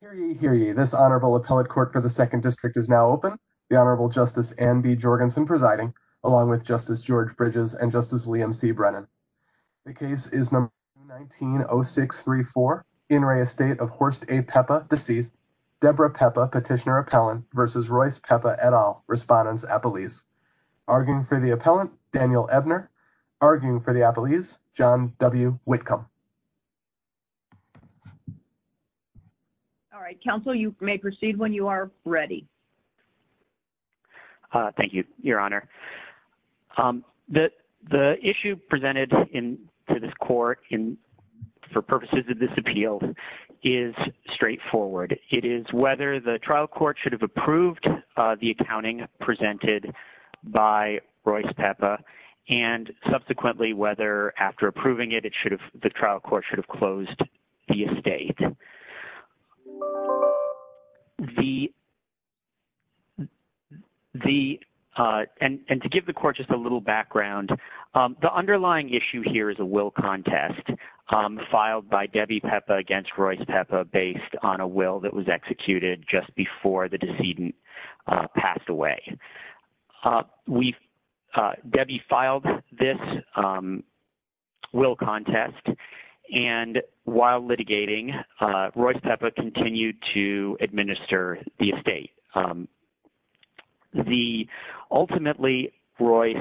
Hear ye, hear ye. This Honorable Appellate Court for the Second District is now open, the Honorable Justice Anne B. Jorgensen presiding, along with Justice George Bridges and Justice Liam C. Brennan. The case is number 19-0634, In re estate of Horst A. Peppa, deceased, Deborah Peppa, petitioner-appellant, v. Royce Peppa et al., Respondent's Appellees. Arguing for the Appellant, Daniel Ebner. Arguing for the Appellees, John W. Whitcomb. All right, counsel, you may proceed when you are ready. Thank you, Your Honor. The issue presented to this court for purposes of this appeal is straightforward. It is whether the trial court should have approved the accounting presented by Royce Peppa and, subsequently, whether, after approving it, the trial court should have closed the estate. And to give the court just a little background, the underlying issue here is a will contest filed by Debbie Peppa against Royce Peppa based on a will that was executed just before the litigation. Royce Peppa continued to administer the estate. Ultimately, Royce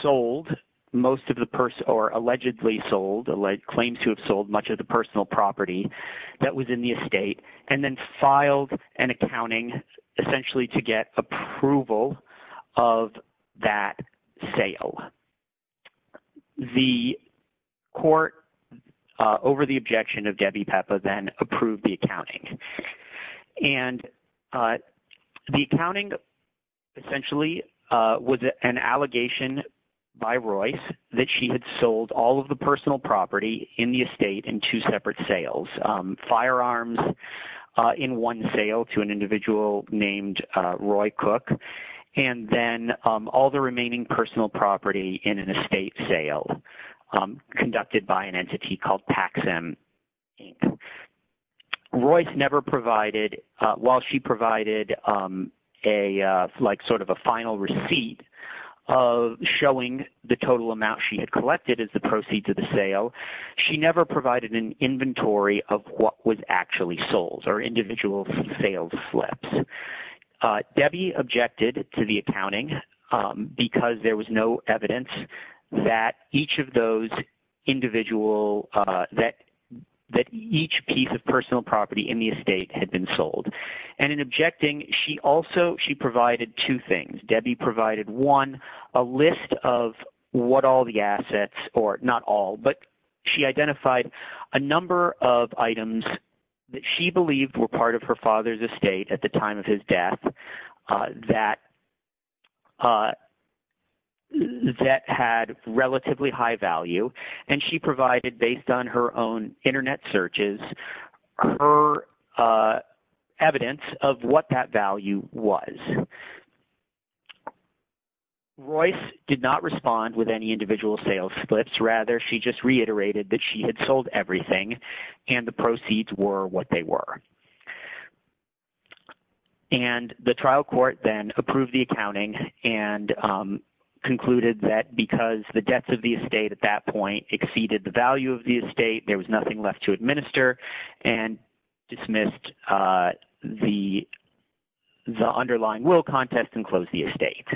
sold most of the allegedly sold, claims to have sold, much of the personal property that was in the estate, and then filed an accounting, essentially, to get approval of that sale. So, the court, over the objection of Debbie Peppa, then approved the accounting. And the accounting, essentially, was an allegation by Royce that she had sold all of the personal property in the estate in two separate sales. Firearms in one sale to an individual named Roy Cook, and then all the remaining personal property in an estate sale, conducted by an entity called Paxim, Inc. Royce never provided, while she provided like sort of a final receipt of showing the total amount she had collected as the proceeds of the sale, she never provided an inventory of what was actually sold, or individual sales slips. Debbie objected to the accounting because there was no evidence that each of those individual, that each piece of personal property in the estate had been sold. And in objecting, she also, she provided two things. Debbie provided, one, a list of what all the assets, or not all, but she identified a number of items that she believed were part of her father's estate at the time of his death that had relatively high value, and she provided, based on her own internet searches, her evidence of what that value was. Royce did not respond with any individual sales slips. Rather, she just reiterated that she had sold everything, and the proceeds were what they were. And the trial court then approved the accounting and concluded that because the debts of the estate at that point exceeded the value of the estate, there was nothing left to administer, and dismissed the underlying will contest and closed the estate.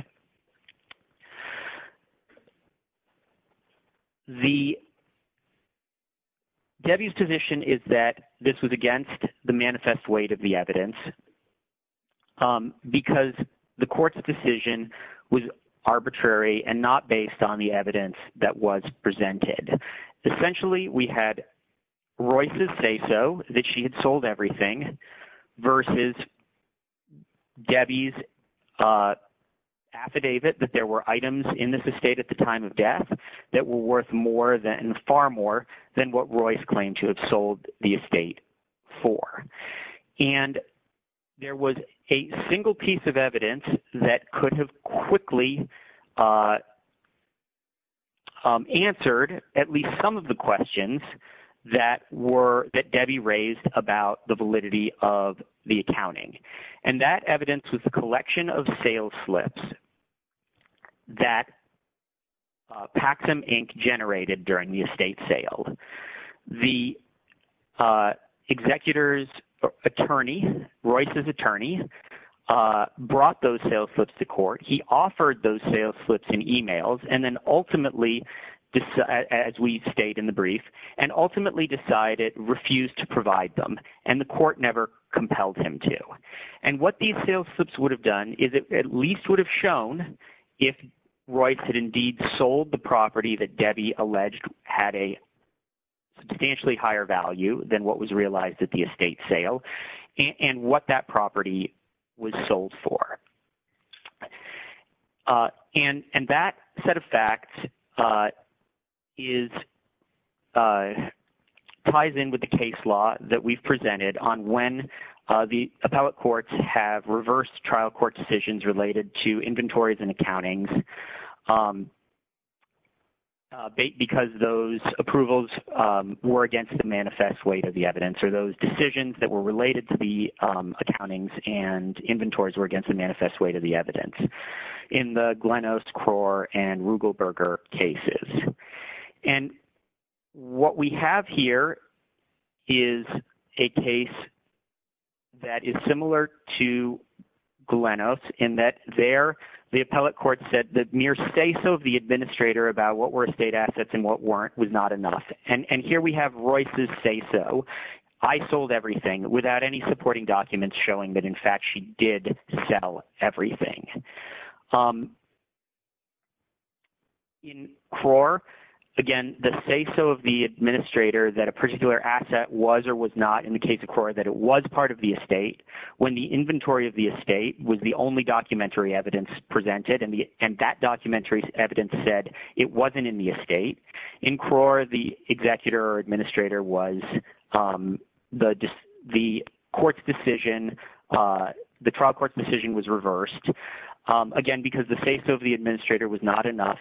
Debbie's position is that this was against the manifest weight of the evidence because the court's decision was arbitrary and not based on the evidence that was presented. Essentially, we had Royce's say so, that she had sold everything, versus Debbie's affidavit that there were items in this estate at the time of death that were worth far more than what Royce claimed to have sold the estate for. And there was a single piece of evidence that could have quickly answered at least some of the questions that Debbie raised about the validity of the accounting. And that evidence was a collection of sales slips that Paxom Inc. generated during the estate sale. The executor's attorney, Royce's attorney, brought those sales slips to court. He offered those sales slips in emails, and then ultimately, as we state in the brief, and ultimately decided refused to provide them, and the court never compelled him to. And what these sales slips would have done is it at least would have shown if Royce had indeed sold the property that Debbie alleged had a substantially higher value than what was realized at the estate sale, and what that property was sold for. And that set of facts ties in with the case law that we've presented on when the appellate courts have reversed trial court decisions related to inventories and accountings because those approvals were against the manifest weight of the evidence, or those decisions that were related to the accountings and inventories were against the manifest weight of the evidence in the Glenose, Krohr, and Rugelberger cases. And what we have here is a case that is similar to Glenose in that there, the appellate court said the mere say-so of the administrator about what were estate assets and what weren't was not enough. And here we have Royce's say-so. I sold everything without any supporting documents showing that, in fact, she did sell everything. In Krohr, again, the say-so of the administrator that a particular asset was or was not in the case of Krohr that it was part of the estate when the inventory of the estate was the only documentary evidence presented, and that documentary evidence said it wasn't in the estate. In Krohr, the executor or administrator was the court's decision was reversed, again, because the say-so of the administrator was not enough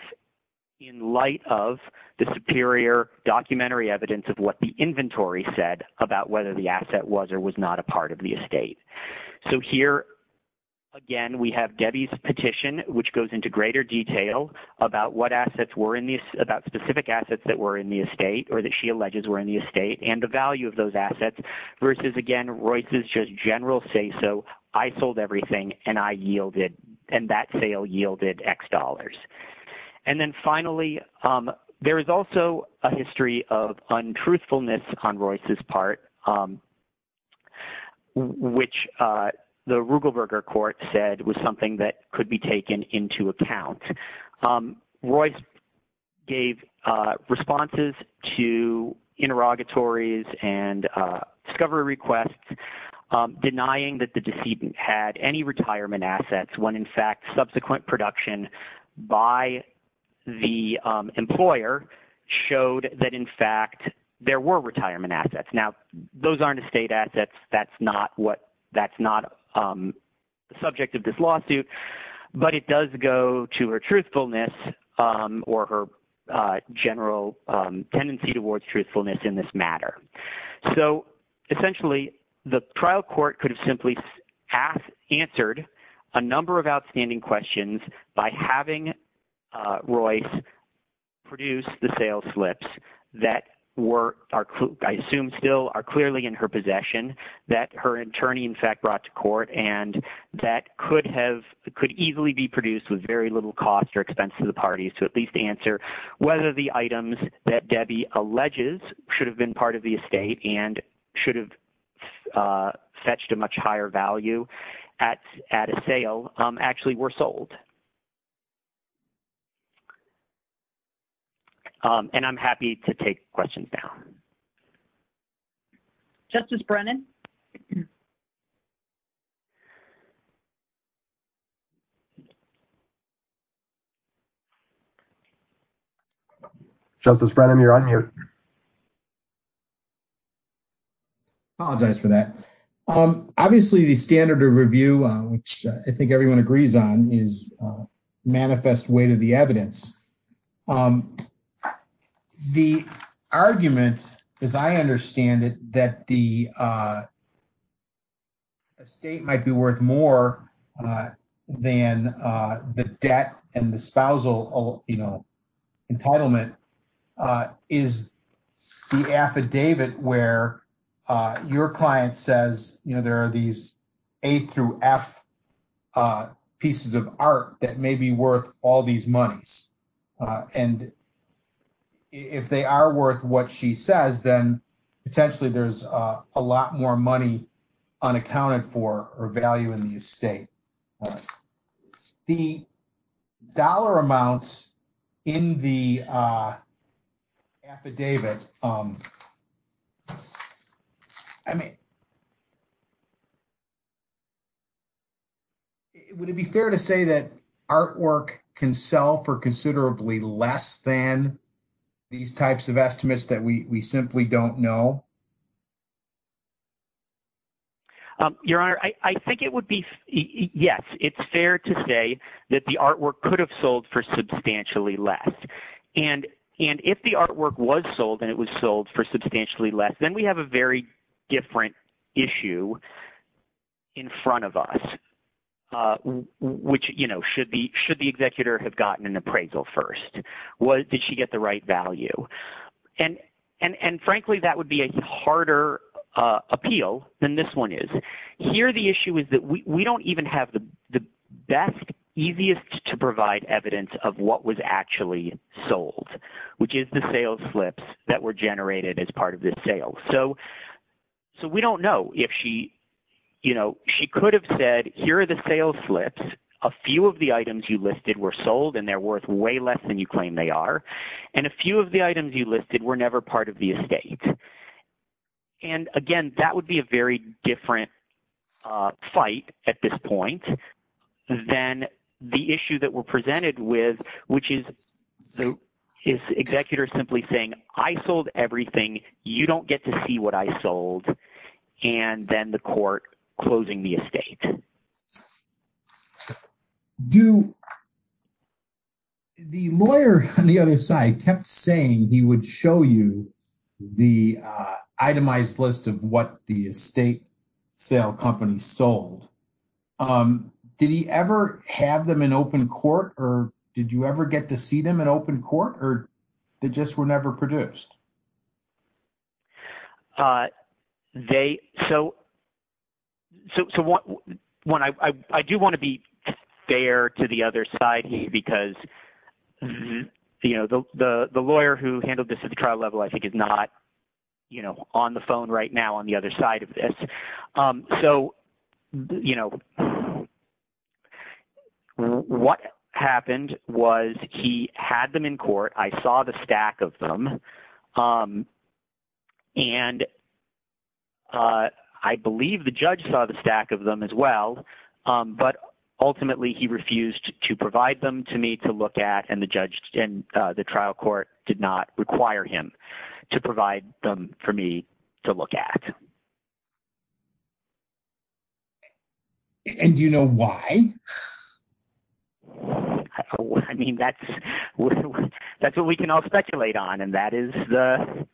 in light of the superior documentary evidence of what the inventory said about whether the asset was or was not a part of the estate. So here, again, we have Debbie's petition, which goes into greater detail about specific assets that were in the estate or that she alleges were in the estate and the value of general say-so. I sold everything, and that sale yielded X dollars. And then finally, there is also a history of untruthfulness on Royce's part, which the Rugelberger court said was something that could be taken into account. Royce gave responses to interrogatories and discovery requests denying that the decedent had any retirement assets when, in fact, subsequent production by the employer showed that, in fact, there were retirement assets. Now, those aren't estate assets. That's not subject of this lawsuit, but it does go to her truthfulness or her general tendency towards truthfulness in this matter. So essentially, the trial court could have simply answered a number of outstanding questions by having Royce produce the sales slips that I assume still are clearly in her possession, that her attorney, in fact, brought to court, and that could easily be produced with very little cost or expense to the parties to at least answer whether the items that Debbie alleges should have been part of the estate and should have fetched a much higher value at a sale actually were sold. And I'm happy to take questions now. Justice Brennan? Justice Brennan, you're on mute. Apologize for that. Obviously, the standard of review, which I think everyone agrees on, is manifest way to the evidence. The argument, as I understand it, that the estate might be worth more than the debt and the spousal entitlement is the affidavit where your client says, you know, there are these A through F pieces of art that may be worth all these monies. And if they are worth what she says, then potentially there's a lot more money unaccounted for or value in the estate. The dollar amounts in the affidavit I mean, would it be fair to say that artwork can sell for considerably less than these types of estimates that we simply don't know? Your Honor, I think it would be, yes, it's fair to say that the artwork could have sold for substantially less. And if the artwork was sold and it was sold for substantially less, then we have a very different issue in front of us, which, you know, should the executor have gotten an appraisal first? Did she get the right value? And frankly, that would be a harder appeal than this one is. Here, the issue is that we don't even have the best, easiest to provide evidence of what was actually sold, which is the sales slips that were generated as part of this sale. So we don't know if she, you know, she could have said, here are the sales slips. A few of the items you listed were sold and they're worth way less than you claim they are. And a few of the items you listed were never part of the estate. And again, that would be a very different fight at this point. Then the issue that we're presented with, which is, is the executor simply saying, I sold everything. You don't get to see what I sold. And then the court closing the estate. Do the lawyer on the other side kept saying he would show you the itemized list of what the estate sale company sold? Did he ever have them in open court or did you ever get to see them in open court or they just were never produced? So I do want to be fair to the other side because you know, the lawyer who handled this at the trial level, I think is not, you know, on the phone right now on the other side of this. So, you know, what happened was he had them in court. I saw the stack of them. And I believe the judge saw the stack of them as well. But ultimately he refused to provide them to me to look at. And the trial court did not require him to provide them for me to look at. And do you know why? I mean, that's what we can all speculate on. And that is the...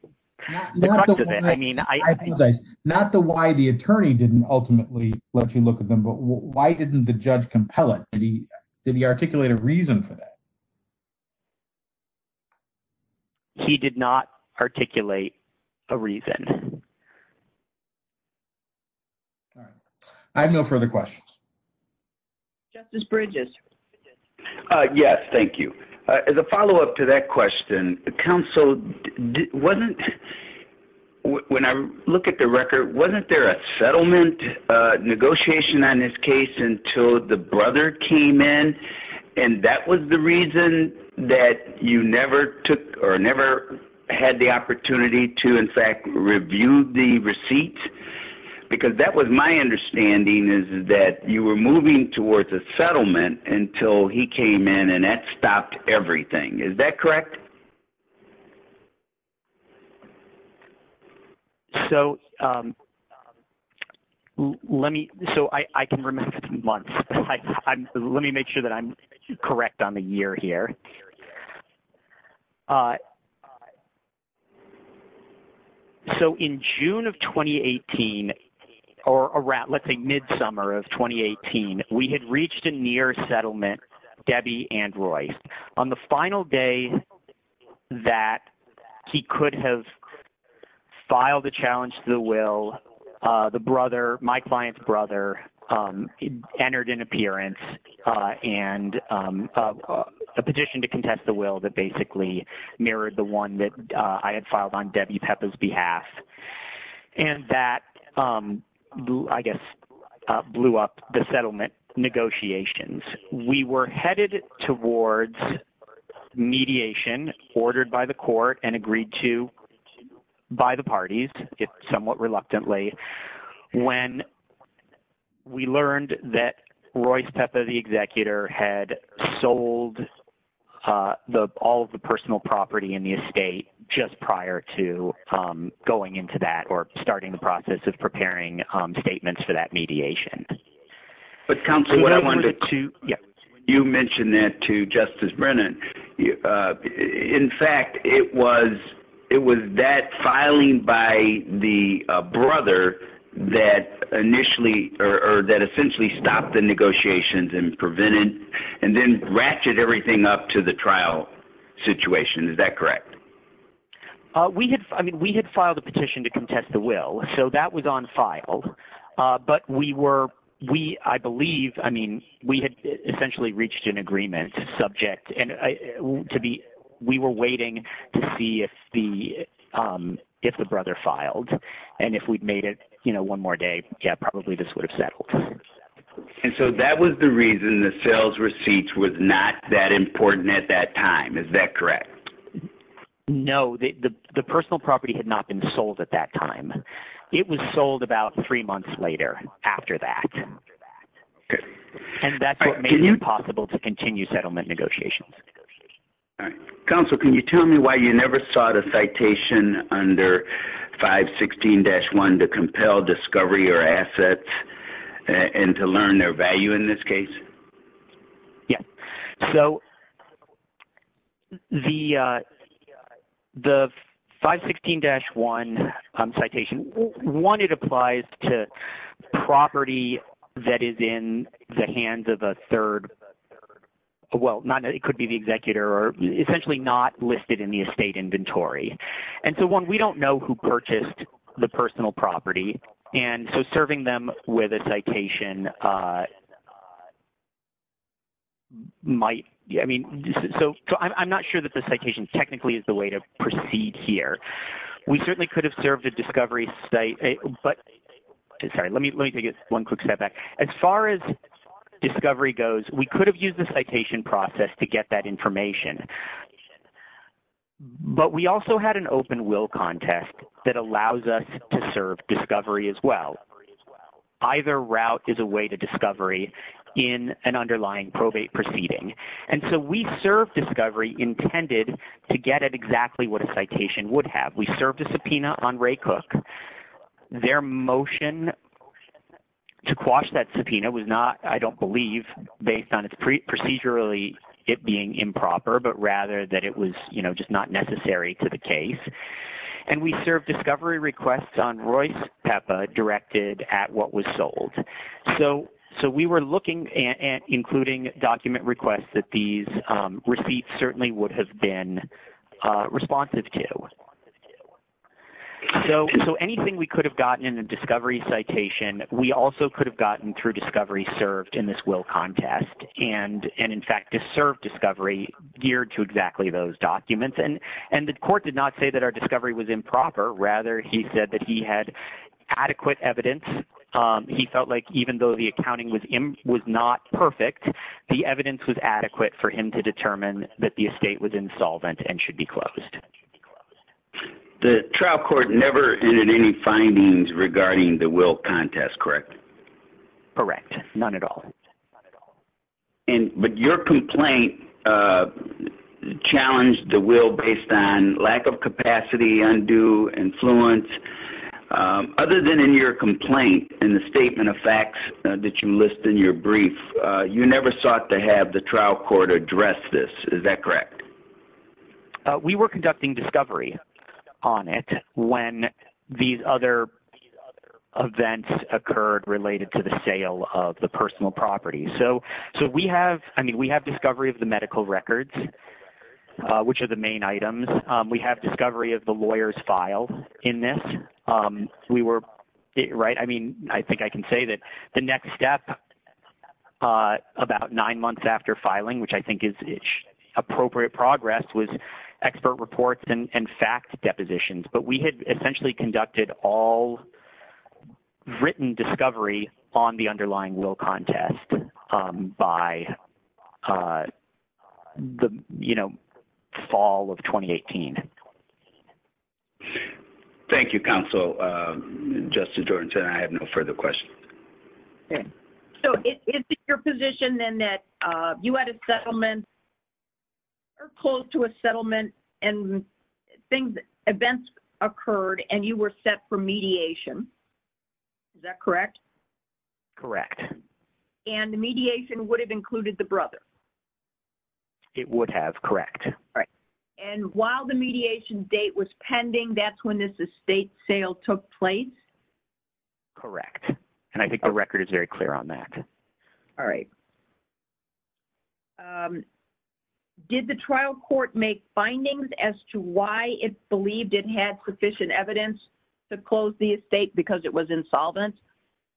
Not the why the attorney didn't ultimately let you look at them, but why didn't the judge compel it? Did he articulate a reason for that? He did not articulate a reason. I have no further questions. Justice Bridges. Yes, thank you. As a follow-up to that question, counsel, when I look at the record, wasn't there settlement negotiation on this case until the brother came in? And that was the reason that you never took or never had the opportunity to, in fact, review the receipt? Because that was my understanding is that you were moving towards a settlement until he came in and that stopped everything. Is that correct? So let me... So I can remember months. Let me make sure that I'm correct on the year here. So in June of 2018, or around, let's say, mid-summer of 2018, we had reached a near settlement, Debbie and Royce. On the final day that he could have filed a challenge to the will, the brother, my client's brother, entered an appearance and a petition to contest the will that basically mirrored the one that I had filed on Debbie Pepa's behalf. And that, I guess, blew up the settlement negotiations. We were headed towards mediation ordered by the court and agreed to by the parties, if somewhat reluctantly, when we learned that Royce Pepa, the executor, had sold all of the personal property in the estate just prior to going process of preparing statements for that mediation. But counsel, what I wanted to... You mentioned that to Justice Brennan. In fact, it was that filing by the brother that initially, or that essentially stopped the negotiations and prevented and then ratcheted everything up to the trial situation. Is that correct? I mean, we had filed a petition to contest the will, so that was on file. But we were, we, I believe, I mean, we had essentially reached an agreement subject and we were waiting to see if the brother filed. And if we'd made it one more day, yeah, probably this would have settled. And so that was the reason the sales receipts was not that important at that time. Is that correct? No, the personal property had not been sold at that time. It was sold about three months later after that. And that's what made it possible to continue settlement negotiations. All right. Counsel, can you tell me why you never sought a citation under 516-1 to compel discovery or assets and to learn their value in this case? Yeah. So the 516-1 citation, one, it applies to property that is in the hands of a third, well, not, it could be the executor or essentially not listed in the estate inventory. And so one, we don't know who purchased the personal property. And so serving them with a citation might, I mean, so I'm not sure that the citation technically is the way to proceed here. We certainly could have served a discovery site, but, sorry, let me take one quick step back. As far as discovery goes, we could have used the citation process to get that information. But we also had an open will contest that allows us to serve discovery as well. Either route is a way to discovery in an underlying probate proceeding. And so we served discovery intended to get at exactly what a citation would have. We served a subpoena on Ray Cook. Their motion to quash that subpoena was not, I don't believe, based on procedurally it being improper, but rather that it was just not necessary to the case. And we served discovery requests on Royce Peppa directed at what was sold. So we were looking at including document requests that these receipts certainly would have been responsive to. So anything we could have gotten in a discovery citation, we also could have gotten through discovery served in this will contest. And in fact, to serve discovery geared to exactly those improper, rather he said that he had adequate evidence. He felt like even though the accounting was not perfect, the evidence was adequate for him to determine that the estate was insolvent and should be closed. The trial court never entered any findings regarding the will contest, correct? Correct. None at all. And but your complaint challenged the will based on lack of capacity, undue influence. Other than in your complaint and the statement of facts that you list in your brief, you never sought to have the trial court address this. Is that correct? We were conducting discovery on it when these other events occurred related to the sale of personal property. So we have, I mean, we have discovery of the medical records, which are the main items. We have discovery of the lawyer's file in this. We were right. I mean, I think I can say that the next step about nine months after filing, which I think is appropriate progress with expert reports and fact depositions, but we had essentially conducted all written discovery on the underlying will contest by the, you know, fall of 2018. Thank you, counsel, Justice Jordanson. I have no further questions. Okay. So it's your position then that you had a settlement or close to a settlement and things, events occurred and you were set for mediation. Is that correct? Correct. And the mediation would have included the brother? It would have. Correct. All right. And while the mediation date was pending, that's when this estate sale took place? Correct. And I think the record is very clear on that. All right. Okay. Did the trial court make findings as to why it believed it had sufficient evidence to close the estate because it was insolvent?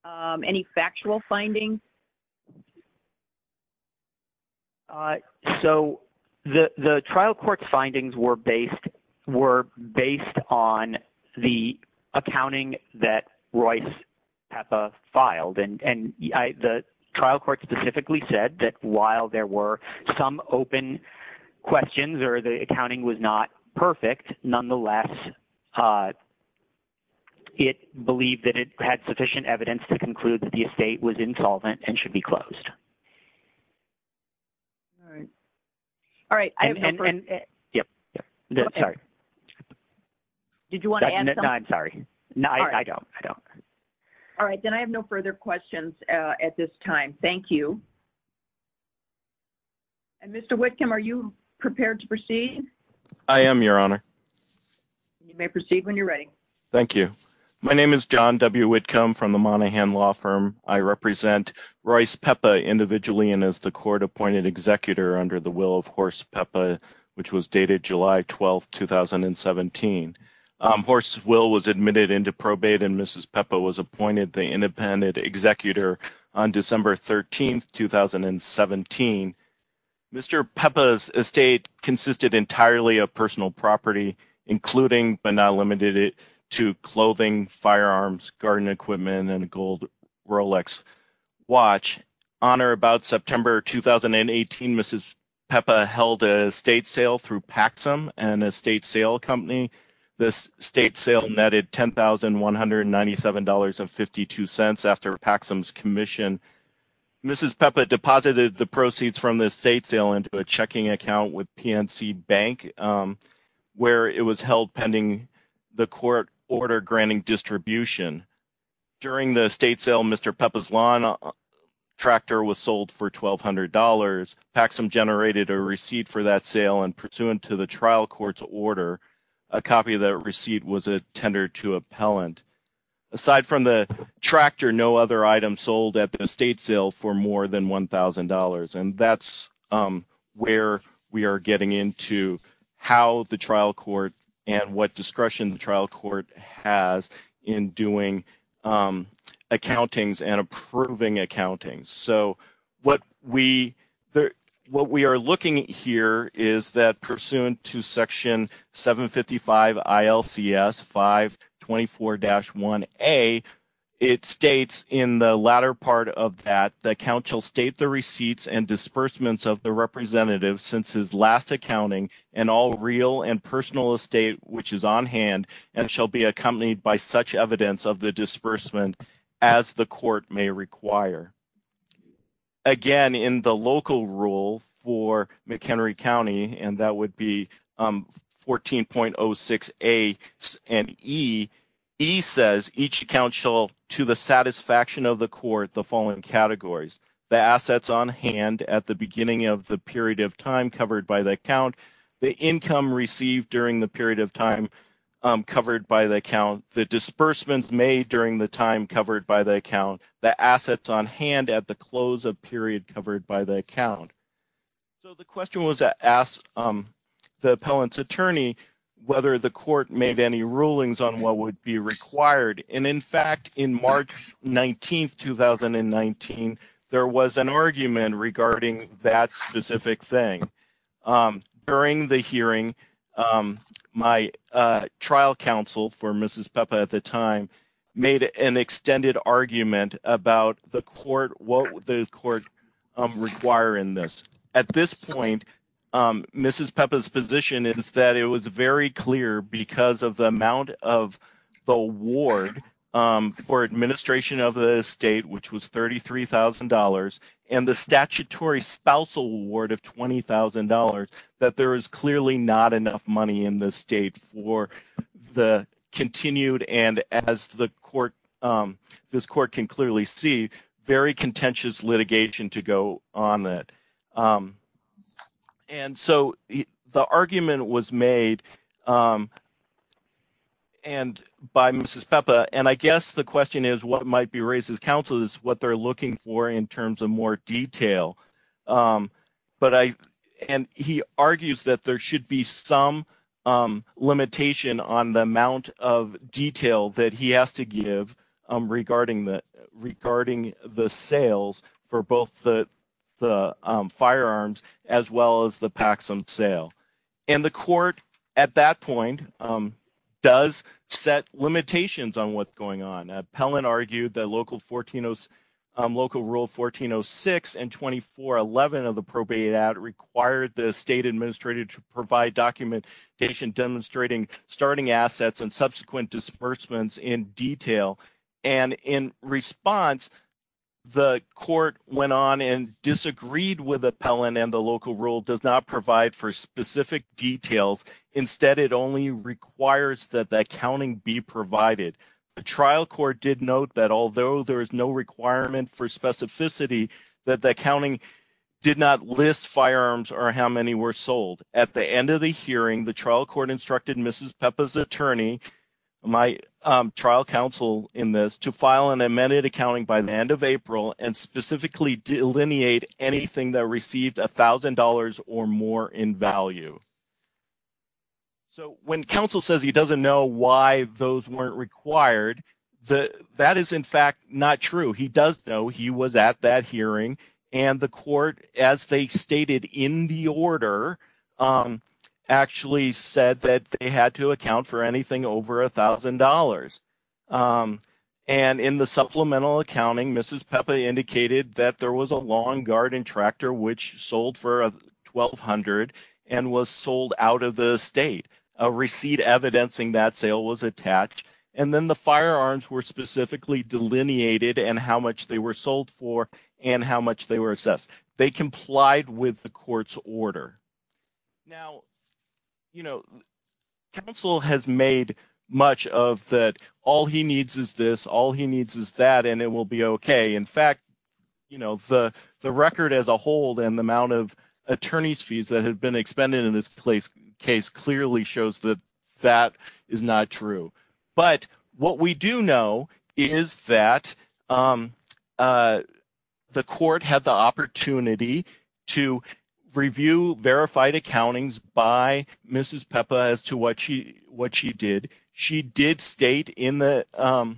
Any factual findings? So the trial court's findings were based, were based on the accounting that Royce filed. And the trial court specifically said that while there were some open questions or the accounting was not perfect, nonetheless, it believed that it had sufficient evidence to conclude that the estate was insolvent and should be closed. All right. All right. Yep. Sorry. Did you want to add something? No, I'm sorry. No, I don't. I don't. All right. Then I have no further questions at this time. Thank you. And Mr. Whitcomb, are you prepared to proceed? I am, Your Honor. You may proceed when you're ready. Thank you. My name is John W. Whitcomb from the Monaghan Law Firm. I represent Royce Pepa individually and as the court-appointed executor under the which was dated July 12, 2017. Horse's will was admitted into probate and Mrs. Pepa was appointed the independent executor on December 13, 2017. Mr. Pepa's estate consisted entirely of personal property, including but not limited to clothing, firearms, garden equipment, and a gold through Paxum and a state sale company. The state sale netted $10,197.52 after Paxum's commission. Mrs. Pepa deposited the proceeds from the state sale into a checking account with PNC Bank, where it was held pending the court order granting distribution. During the state sale, Mr. Pepa's lawn tractor was sold for $1,200. Paxum generated a receipt for that sale and pursuant to the trial court's order, a copy of that receipt was attended to appellant. Aside from the tractor, no other item sold at the estate sale for more than $1,000. And that's where we are getting into how the trial court and what discretion the trial court has in doing accountings and approving accountings. So what we are looking at here is that pursuant to section 755 ILCS 524-1A, it states in the latter part of that, that counsel state the receipts and disbursements of the representative since his last accounting and all real and personal estate which is on hand and shall be accompanied by such evidence of the disbursement as the court may require. Again, in the local rule for McHenry County, and that would be 14.06A and E, E says, each account shall to the satisfaction of the court the following categories, the assets on hand at the beginning of the period of time covered by the account, the income received during the period of time covered by the account, the disbursements made during the time covered by the account, the assets on hand at the close of period covered by the account. So the question was asked the appellant's attorney whether the court made any rulings on what would be required. And in fact, in March 19, 2019, there was an argument regarding that specific thing. During the hearing, my trial counsel for Mrs. Pepa at the time made an extended argument about the court, what would the court require in this. At this point, Mrs. Pepa's position is that it was very clear because of the amount of the award for administration of the estate, which was $33,000, and the statutory spousal award of $20,000 that there is clearly not enough money in the state for the continued and as this court can clearly see, very contentious litigation to go on that. And so the argument was made by Mrs. Pepa, and I guess the question is what might be raised as what they're looking for in terms of more detail. And he argues that there should be some limitation on the amount of detail that he has to give regarding the sales for both the firearms as well as the Paxson sale. And the court at that point does set limitations on what's going on. Appellant argued that Local Rule 1406 and 2411 of the probate act required the state administrator to provide documentation demonstrating starting assets and subsequent disbursements in detail. And in response, the court went on and disagreed with Appellant and the local rule does not provide for specific details. Instead, it only requires that the accounting be provided. The trial court did note that although there is no requirement for specificity, that the accounting did not list firearms or how many were sold. At the end of the hearing, the trial court instructed Mrs. Pepa's attorney, my trial counsel in this, to file an amended value. So when counsel says he doesn't know why those weren't required, that is in fact not true. He does know he was at that hearing. And the court, as they stated in the order, actually said that they had to account for anything over $1,000. And in the supplemental was sold out of the state. A receipt evidencing that sale was attached. And then the firearms were specifically delineated and how much they were sold for and how much they were assessed. They complied with the court's order. Now, you know, counsel has made much of that all he needs is this, all he needs is that, and it will be okay. In fact, you know, the record as a whole and the amount of attorney's fees that have been expended in this case clearly shows that that is not true. But what we do know is that the court had the opportunity to review verified accountings by Mrs. Pepa as to what she did. She did state in her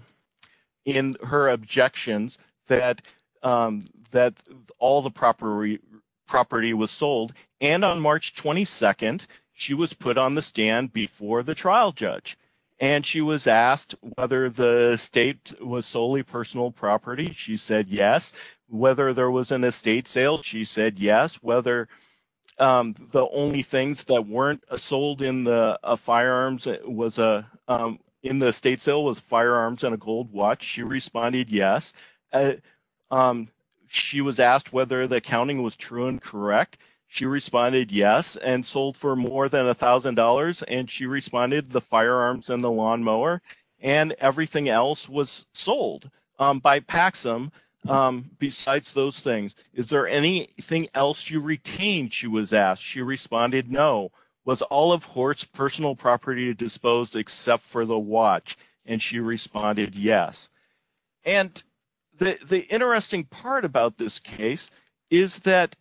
objections that all the property was sold. And on March 22nd, she was put on the stand before the trial judge. And she was asked whether the state was solely personal property. She said yes. Whether there was an estate sale, she said yes. Whether the only things that weren't sold in the firearms was in the estate sale was firearms and a gold watch. She responded yes. She was asked whether the accounting was true and correct. She responded yes and sold for more than $1,000. And she responded the firearms and the lawnmower and everything else was sold by Paxom besides those things. Is there anything else you retained, she was asked. She responded no. Was all of Hort's personal property disposed except for the watch? And she responded yes. And the interesting part about this case is that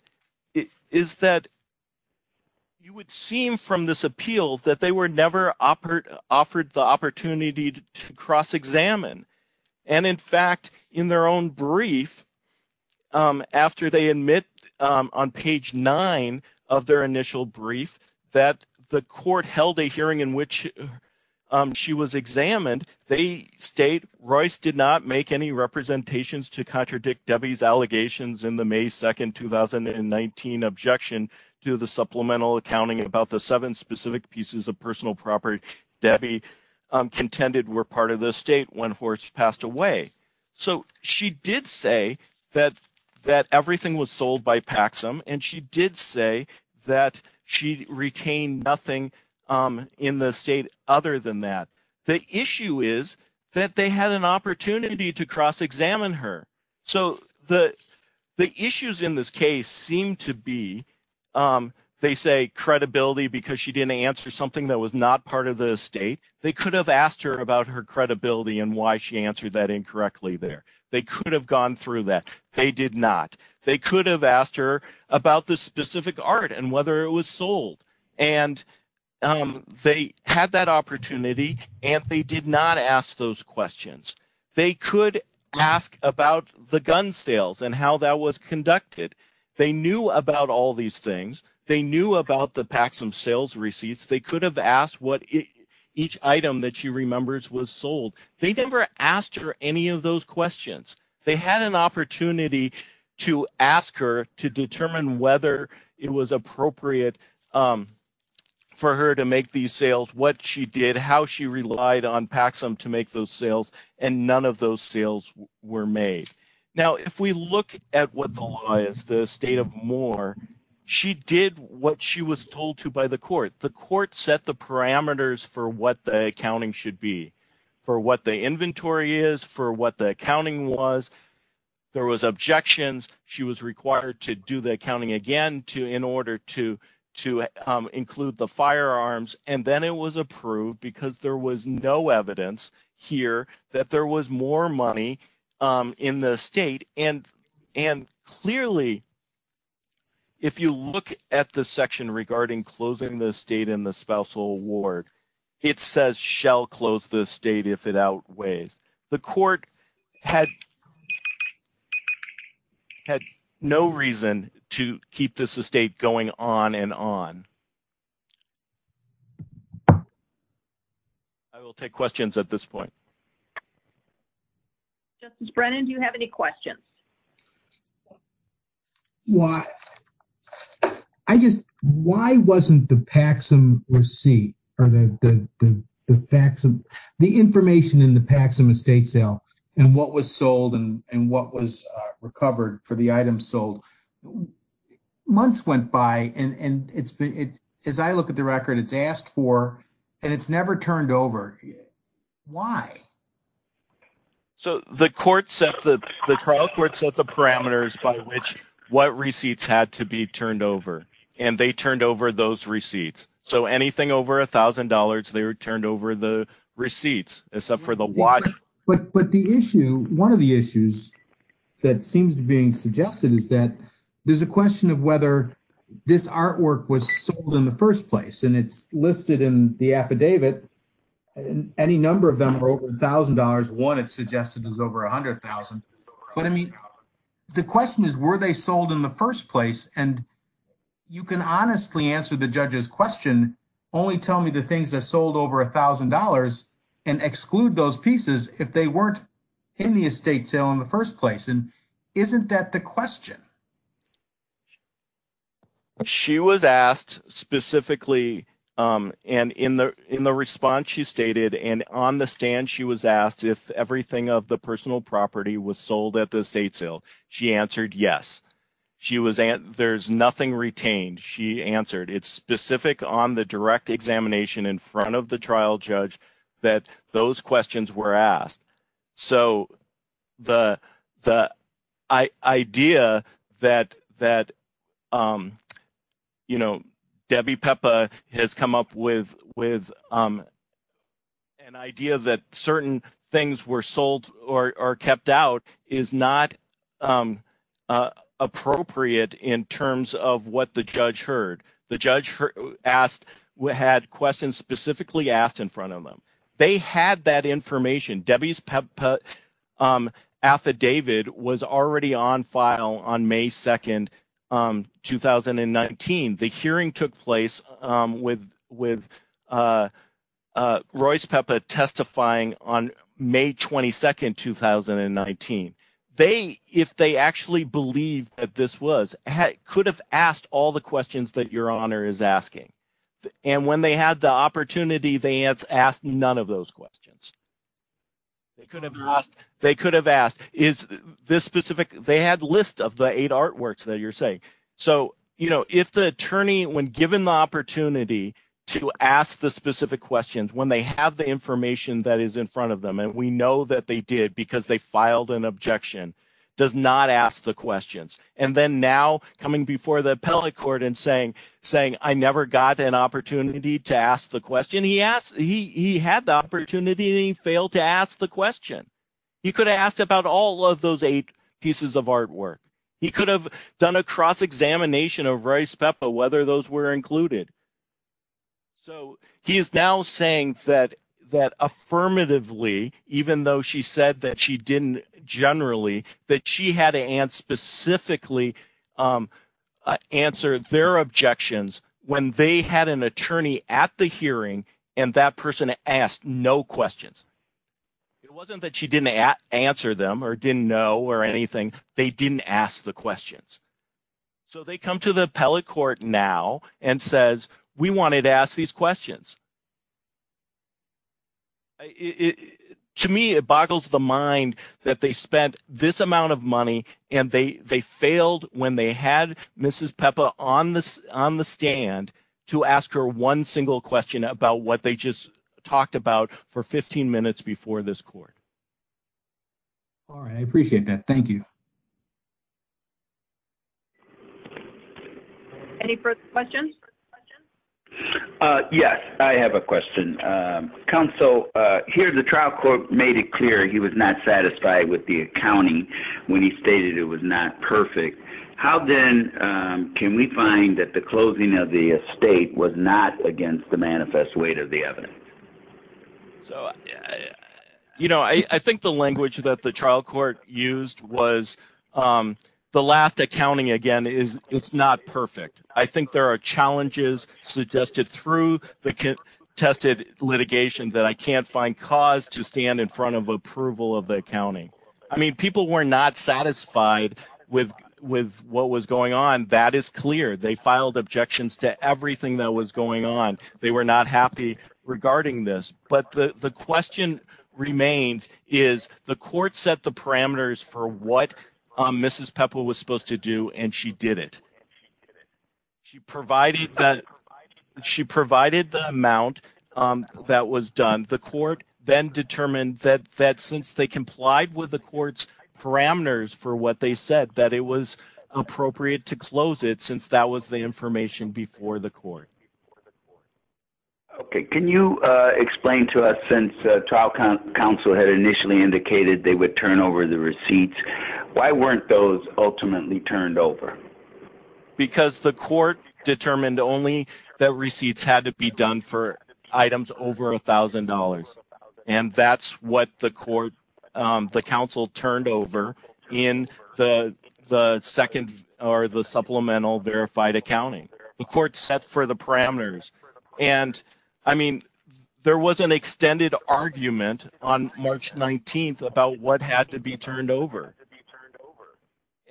you would seem from this appeal that they were never offered the opportunity to cross-examine. And in fact, in their own brief, after they admit on page 9 of their initial brief that the court held a hearing in which she was examined, they state, Royce did not make any representations to contradict Debbie's allegations in the May 2nd, 2019 objection to the supplemental accounting about the seven specific pieces of personal property Debbie contended were part of the estate when Hort's passed away. So she did say that everything was sold by Paxom and she did say that she retained nothing in the estate other than that. The issue is that they had an opportunity to cross-examine her. So the issues in this case seem to be, they say credibility because she didn't answer something that was not part of the estate. They could have asked her about her credibility and why she answered that incorrectly there. They could have gone through that. They did not. They could have asked her about the specific art and whether it was sold. And they had that opportunity and they did not ask those questions. They could ask about the gun sales and how that was conducted. They knew about all these things. They knew about the Paxom sales receipts. They could have asked what each item that she remembers was sold. They never asked her any of those questions. They had an opportunity to ask her to determine whether it was appropriate for her to make these sales, what she did, how she relied on Paxom to make those sales, and none of those sales were made. Now if we look at what the law is, the estate of Moore, she did what she was told to by the court. The court set the parameters for what the accounting should be, for what the inventory is, for what the accounting was. There was objections. She was required to do the accounting again in order to include the firearms. And then it was approved because there was no evidence here that there was more money in the estate. And clearly, if you look at the section regarding closing the estate in the spousal ward, it says shall close the estate if it outweighs. The court had no reason to keep this estate going on and on. I will take questions at this point. Justice Brennan, do you have any questions? I just, why wasn't the Paxom receipt or the facts of the information in the Paxom estate sale and what was sold and what was recovered for the items sold? Months went by and it's been, as I look at the record, it's asked for and it's never turned over. Why? So the trial court set the parameters by which what receipts had to be turned over. And they turned over those receipts. So anything over $1,000, they were turned over the receipts, except for the watch. But the issue, one of the issues that seems to be suggested is that there's a question of whether this artwork was sold in the first place. And it's listed in the affidavit. Any number of them are over $1,000. One, it's suggested is over $100,000. But I mean, the question is, were they sold in the first place? And you can honestly answer the judge's question, only tell me the things that sold over $1,000 and exclude those pieces if they weren't in the estate sale in the first place. And isn't that the question? She was asked specifically, and in the response she stated, and on the stand she was asked if everything of the personal property was sold at the estate sale. She answered yes. There's nothing retained, she answered. It's specific on the direct examination in front of the trial judge that those questions were asked. So the idea that Debbie Pepa has come up with an idea that certain things were sold or kept out is not appropriate in terms of what the judge heard. The judge had questions specifically asked in front of them. They had that information. Debbie's affidavit was already on file on May 2, 2019. The hearing took place with Royce Pepa testifying on May 22, 2019. If they actually believed that this was, could have asked all the questions that your Honor is asking. And when they had the opportunity, they asked none of those questions. They could have asked. They had lists of the eight artworks that you're saying. So if the attorney, when given the opportunity to ask the specific questions, when they have the information that is in front of them, and we know that they did because they filed an objection, does not ask the questions. And then now coming before the appellate court and saying, I never got an opportunity to ask the question. He had the opportunity and he failed to ask the question. He could have asked about all of those eight pieces of artwork. He could have done a cross-examination of Royce Pepa, whether those were included. So he is now saying that affirmatively, even though she said that she didn't generally, that she had to answer specifically answered their objections when they had an attorney at the hearing and that person asked no questions. It wasn't that she didn't answer them or didn't know or anything. They didn't ask the questions. So they come to the appellate court now and says, we wanted to ask these questions. To me, it boggles the mind that they spent this amount of money and they failed when they had Mrs. Pepa on the stand to ask her one single question about what they just talked about for 15 minutes before this court. All right. I appreciate that. Thank you. Any further questions? Yes, I have a question. Counsel, here, the trial court made it clear he was not satisfied with the accounting when he stated it was not perfect. How then can we find that the closing of the estate was not against the manifest weight of the evidence? So, you know, I think the language that the trial court used was the last accounting again is it's not perfect. I think there are challenges suggested through the contested litigation that I can't find cause to stand in front of approval of the accounting. I mean, people were not satisfied with what was going on. That is clear. They filed objections to everything that was going on. They were not happy regarding this. But the question remains is the court set the parameters for what Mrs. Pepa was supposed to do. And she did it. She provided that she provided the amount that was done. The court then determined that that since they complied with the court's parameters for what they said, that it was appropriate to close it since that was the information before the court. Okay. Can you explain to us since the trial counsel had initially indicated they would turn over the receipts, why weren't those ultimately turned over? Because the court determined only that receipts had to be done for items over $1,000. And that's what the court, the counsel turned over in the second or the supplemental verified accounting. The court set for the parameters. And I mean, there was an extended argument on March 19th about what had to be turned over.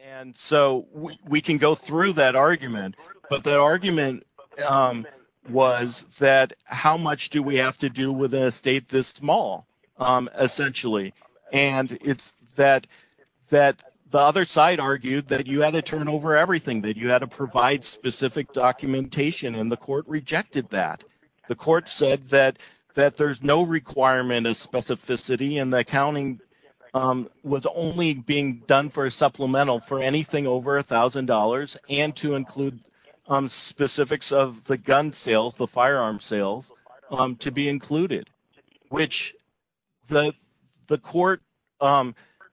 And so we can go through that argument. But the argument was that how much do we have to do with an estate this small, essentially. And it's that the other side argued that you had to turn over everything, that you had to provide specific documentation. And the court rejected that. The court said that there's no requirement of specificity and the accounting was only being done for a supplemental for anything over $1,000 and to include specifics of the gun sales, the firearm sales to be included, which the court,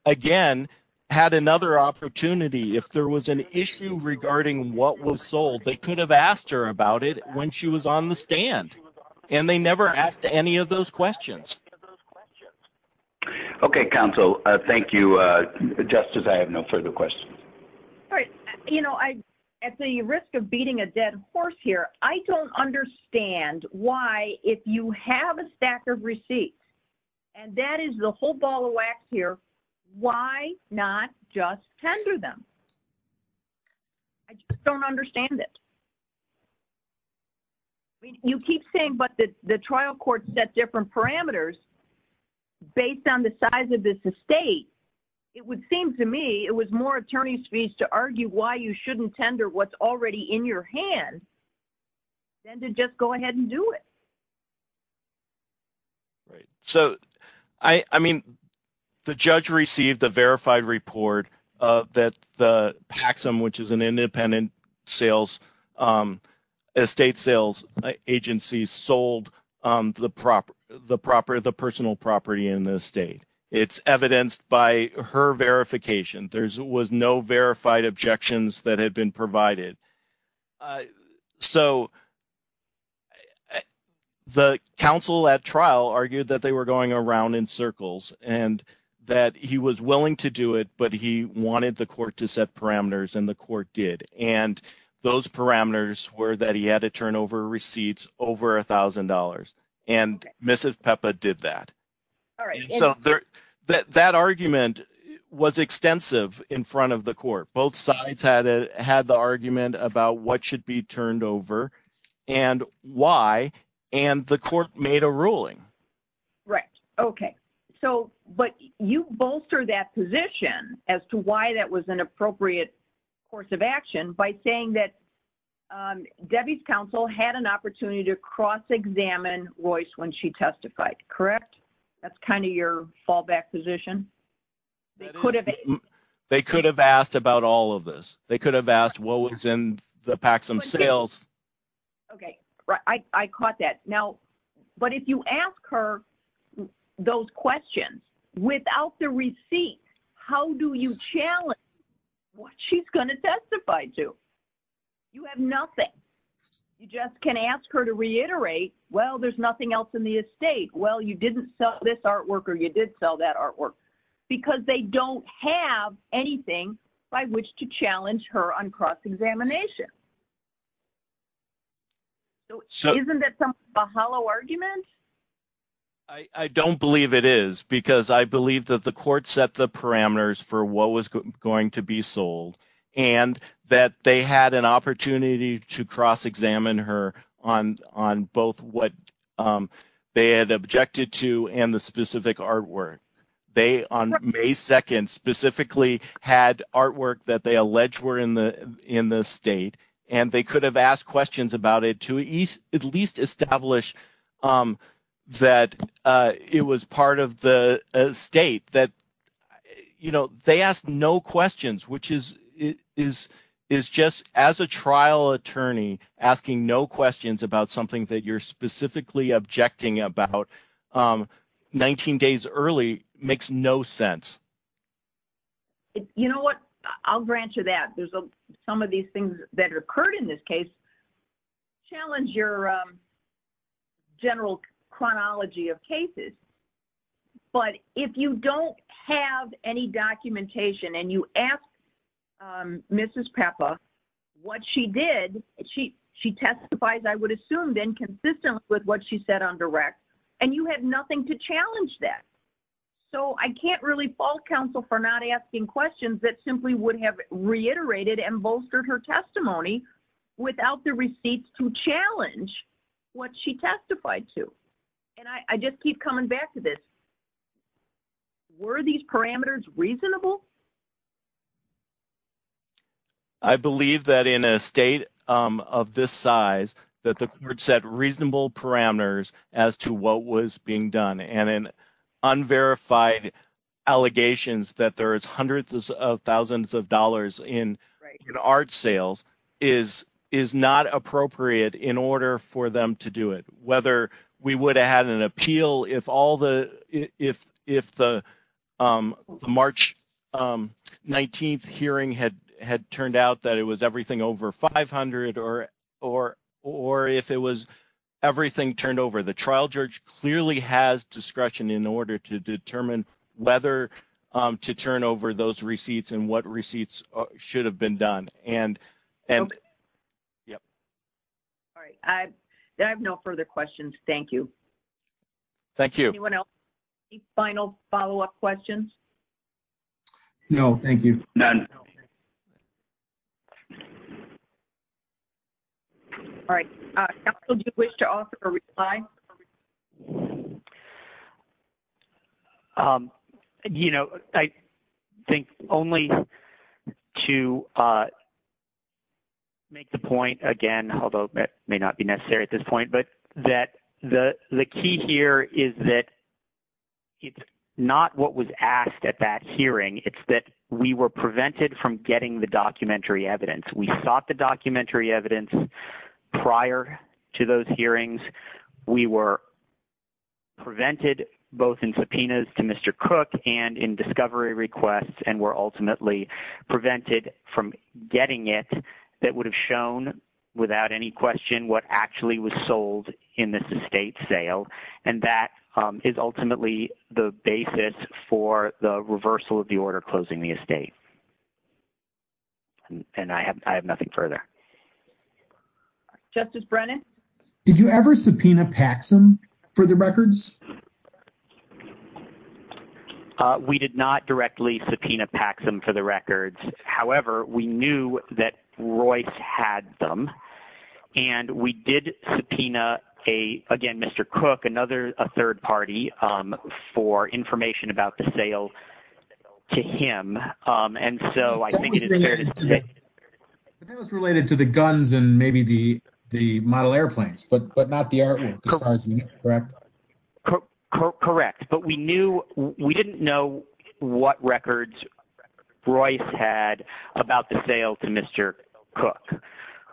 again, had another opportunity if there was an issue regarding what was sold, they could have asked her about it when she was on the stand. And they never asked any of those questions. Okay, counsel. Thank you. Justice, I have no further questions. All right. You know, at the risk of beating a dead horse here, I don't understand why if you have a stack of receipts, and that is the whole ball of wax here, why not just tender them? I don't understand it. You keep saying, but the trial court set different parameters based on the size of this estate. It would seem to me it was more attorney's fees to argue why you shouldn't tender what's already in your hand than to just go ahead and do it. Right. So, I mean, the judge received a verified report that the PAXM, which is an the personal property in the estate, it's evidenced by her verification. There was no verified objections that had been provided. So the counsel at trial argued that they were going around in circles and that he was willing to do it, but he wanted the court to set parameters and the court did. And those parameters were that he had to turn over receipts over $1,000. And Mrs. Pepa did that. All right. So that argument was extensive in front of the court. Both sides had the argument about what should be turned over and why, and the court made a ruling. Right. Okay. So, but you bolster that position as to why that was an appropriate course of action by saying that Debbie's counsel had an opportunity to cross-examine Royce when she testified, correct? That's kind of your fallback position. They could have asked about all of this. They could have asked what was in the PAXM sales. Okay. I caught that. Now, but if you ask her those questions without the receipt, how do you challenge what she's going to testify to? You have nothing. You just can ask her to reiterate, well, there's nothing else in the estate. Well, you didn't sell this artwork or you did sell that artwork because they don't have anything by which to challenge her on cross-examination. So isn't that a hollow argument? I don't believe it is because I for what was going to be sold and that they had an opportunity to cross-examine her on both what they had objected to and the specific artwork. They on May 2nd specifically had artwork that they alleged were in the state and they could have asked questions about it to at least establish that it was part of the state. They asked no questions, which is just as a trial attorney asking no questions about something that you're specifically objecting about 19 days early makes no sense. You know what? I'll grant you that. Some of these things that occurred in this case challenge your general chronology of cases. But if you don't have any documentation and you ask Mrs. Pepa what she did, she testifies, I would assume, then consistent with what she said on direct and you have nothing to challenge that. So I can't really fault counsel for not asking questions that simply would have reiterated and without the receipts to challenge what she testified to. And I just keep coming back to this. Were these parameters reasonable? I believe that in a state of this size that the court set reasonable parameters as to what was being done and in unverified allegations that there is hundreds of thousands of dollars in art sales is not appropriate in order for them to do it. Whether we would have had an appeal if all the March 19th hearing had turned out that it was everything over 500 or if it was everything turned over. The trial judge clearly has discretion in order to determine whether to turn over those receipts and what receipts should have been done. All right. I have no further questions. Thank you. Thank you. Anyone else? Any final follow-up questions? No, thank you. All right. Counsel, do you wish to offer a reply? I think only to make the point again, although it may not be necessary at this point, but that the key here is that it's not what was asked at that hearing. It's that we were prevented from getting the documentary evidence. We sought the documentary evidence prior to those hearings. We were prevented both in subpoenas to Mr. Cook and in discovery requests and were ultimately prevented from getting it that would have shown without any question what actually was sold in this estate sale. And that is ultimately the basis for the reversal of the order closing the estate. And I have nothing further. All right. Justice Brennan? Did you ever subpoena Paxson for the records? We did not directly subpoena Paxson for the records. However, we knew that Royce had them and we did subpoena a, again, Mr. Cook, a third party for information about the sale to him. And so I think it is fair to say. But that was related to the guns and maybe the model airplanes, but not the artwork. Correct. But we didn't know what records Royce had about the sale to Mr. Cook.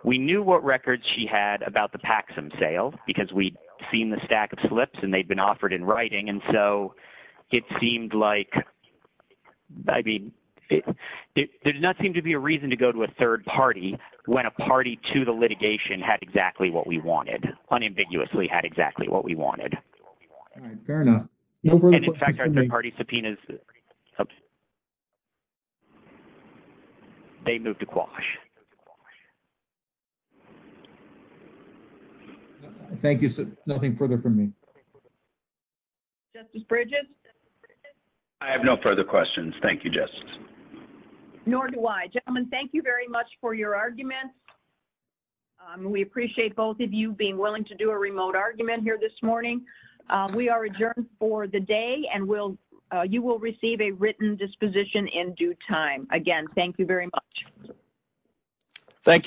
We knew what records she had about the Paxson sale because we'd seen the stack of slips and they'd been subpoenaed to a third party when a party to the litigation had exactly what we wanted, unambiguously had exactly what we wanted. All right. Fair enough. They moved to Quash. Thank you. Nothing further from me. Justice Bridges? I have no further questions. Thank you, Justice. Nor do I. Gentlemen, thank you very much for your argument. We appreciate both of you being willing to do a remote argument here this morning. We are adjourned for the day and you will receive a written disposition in due time. Again, thank you very much. Thank you.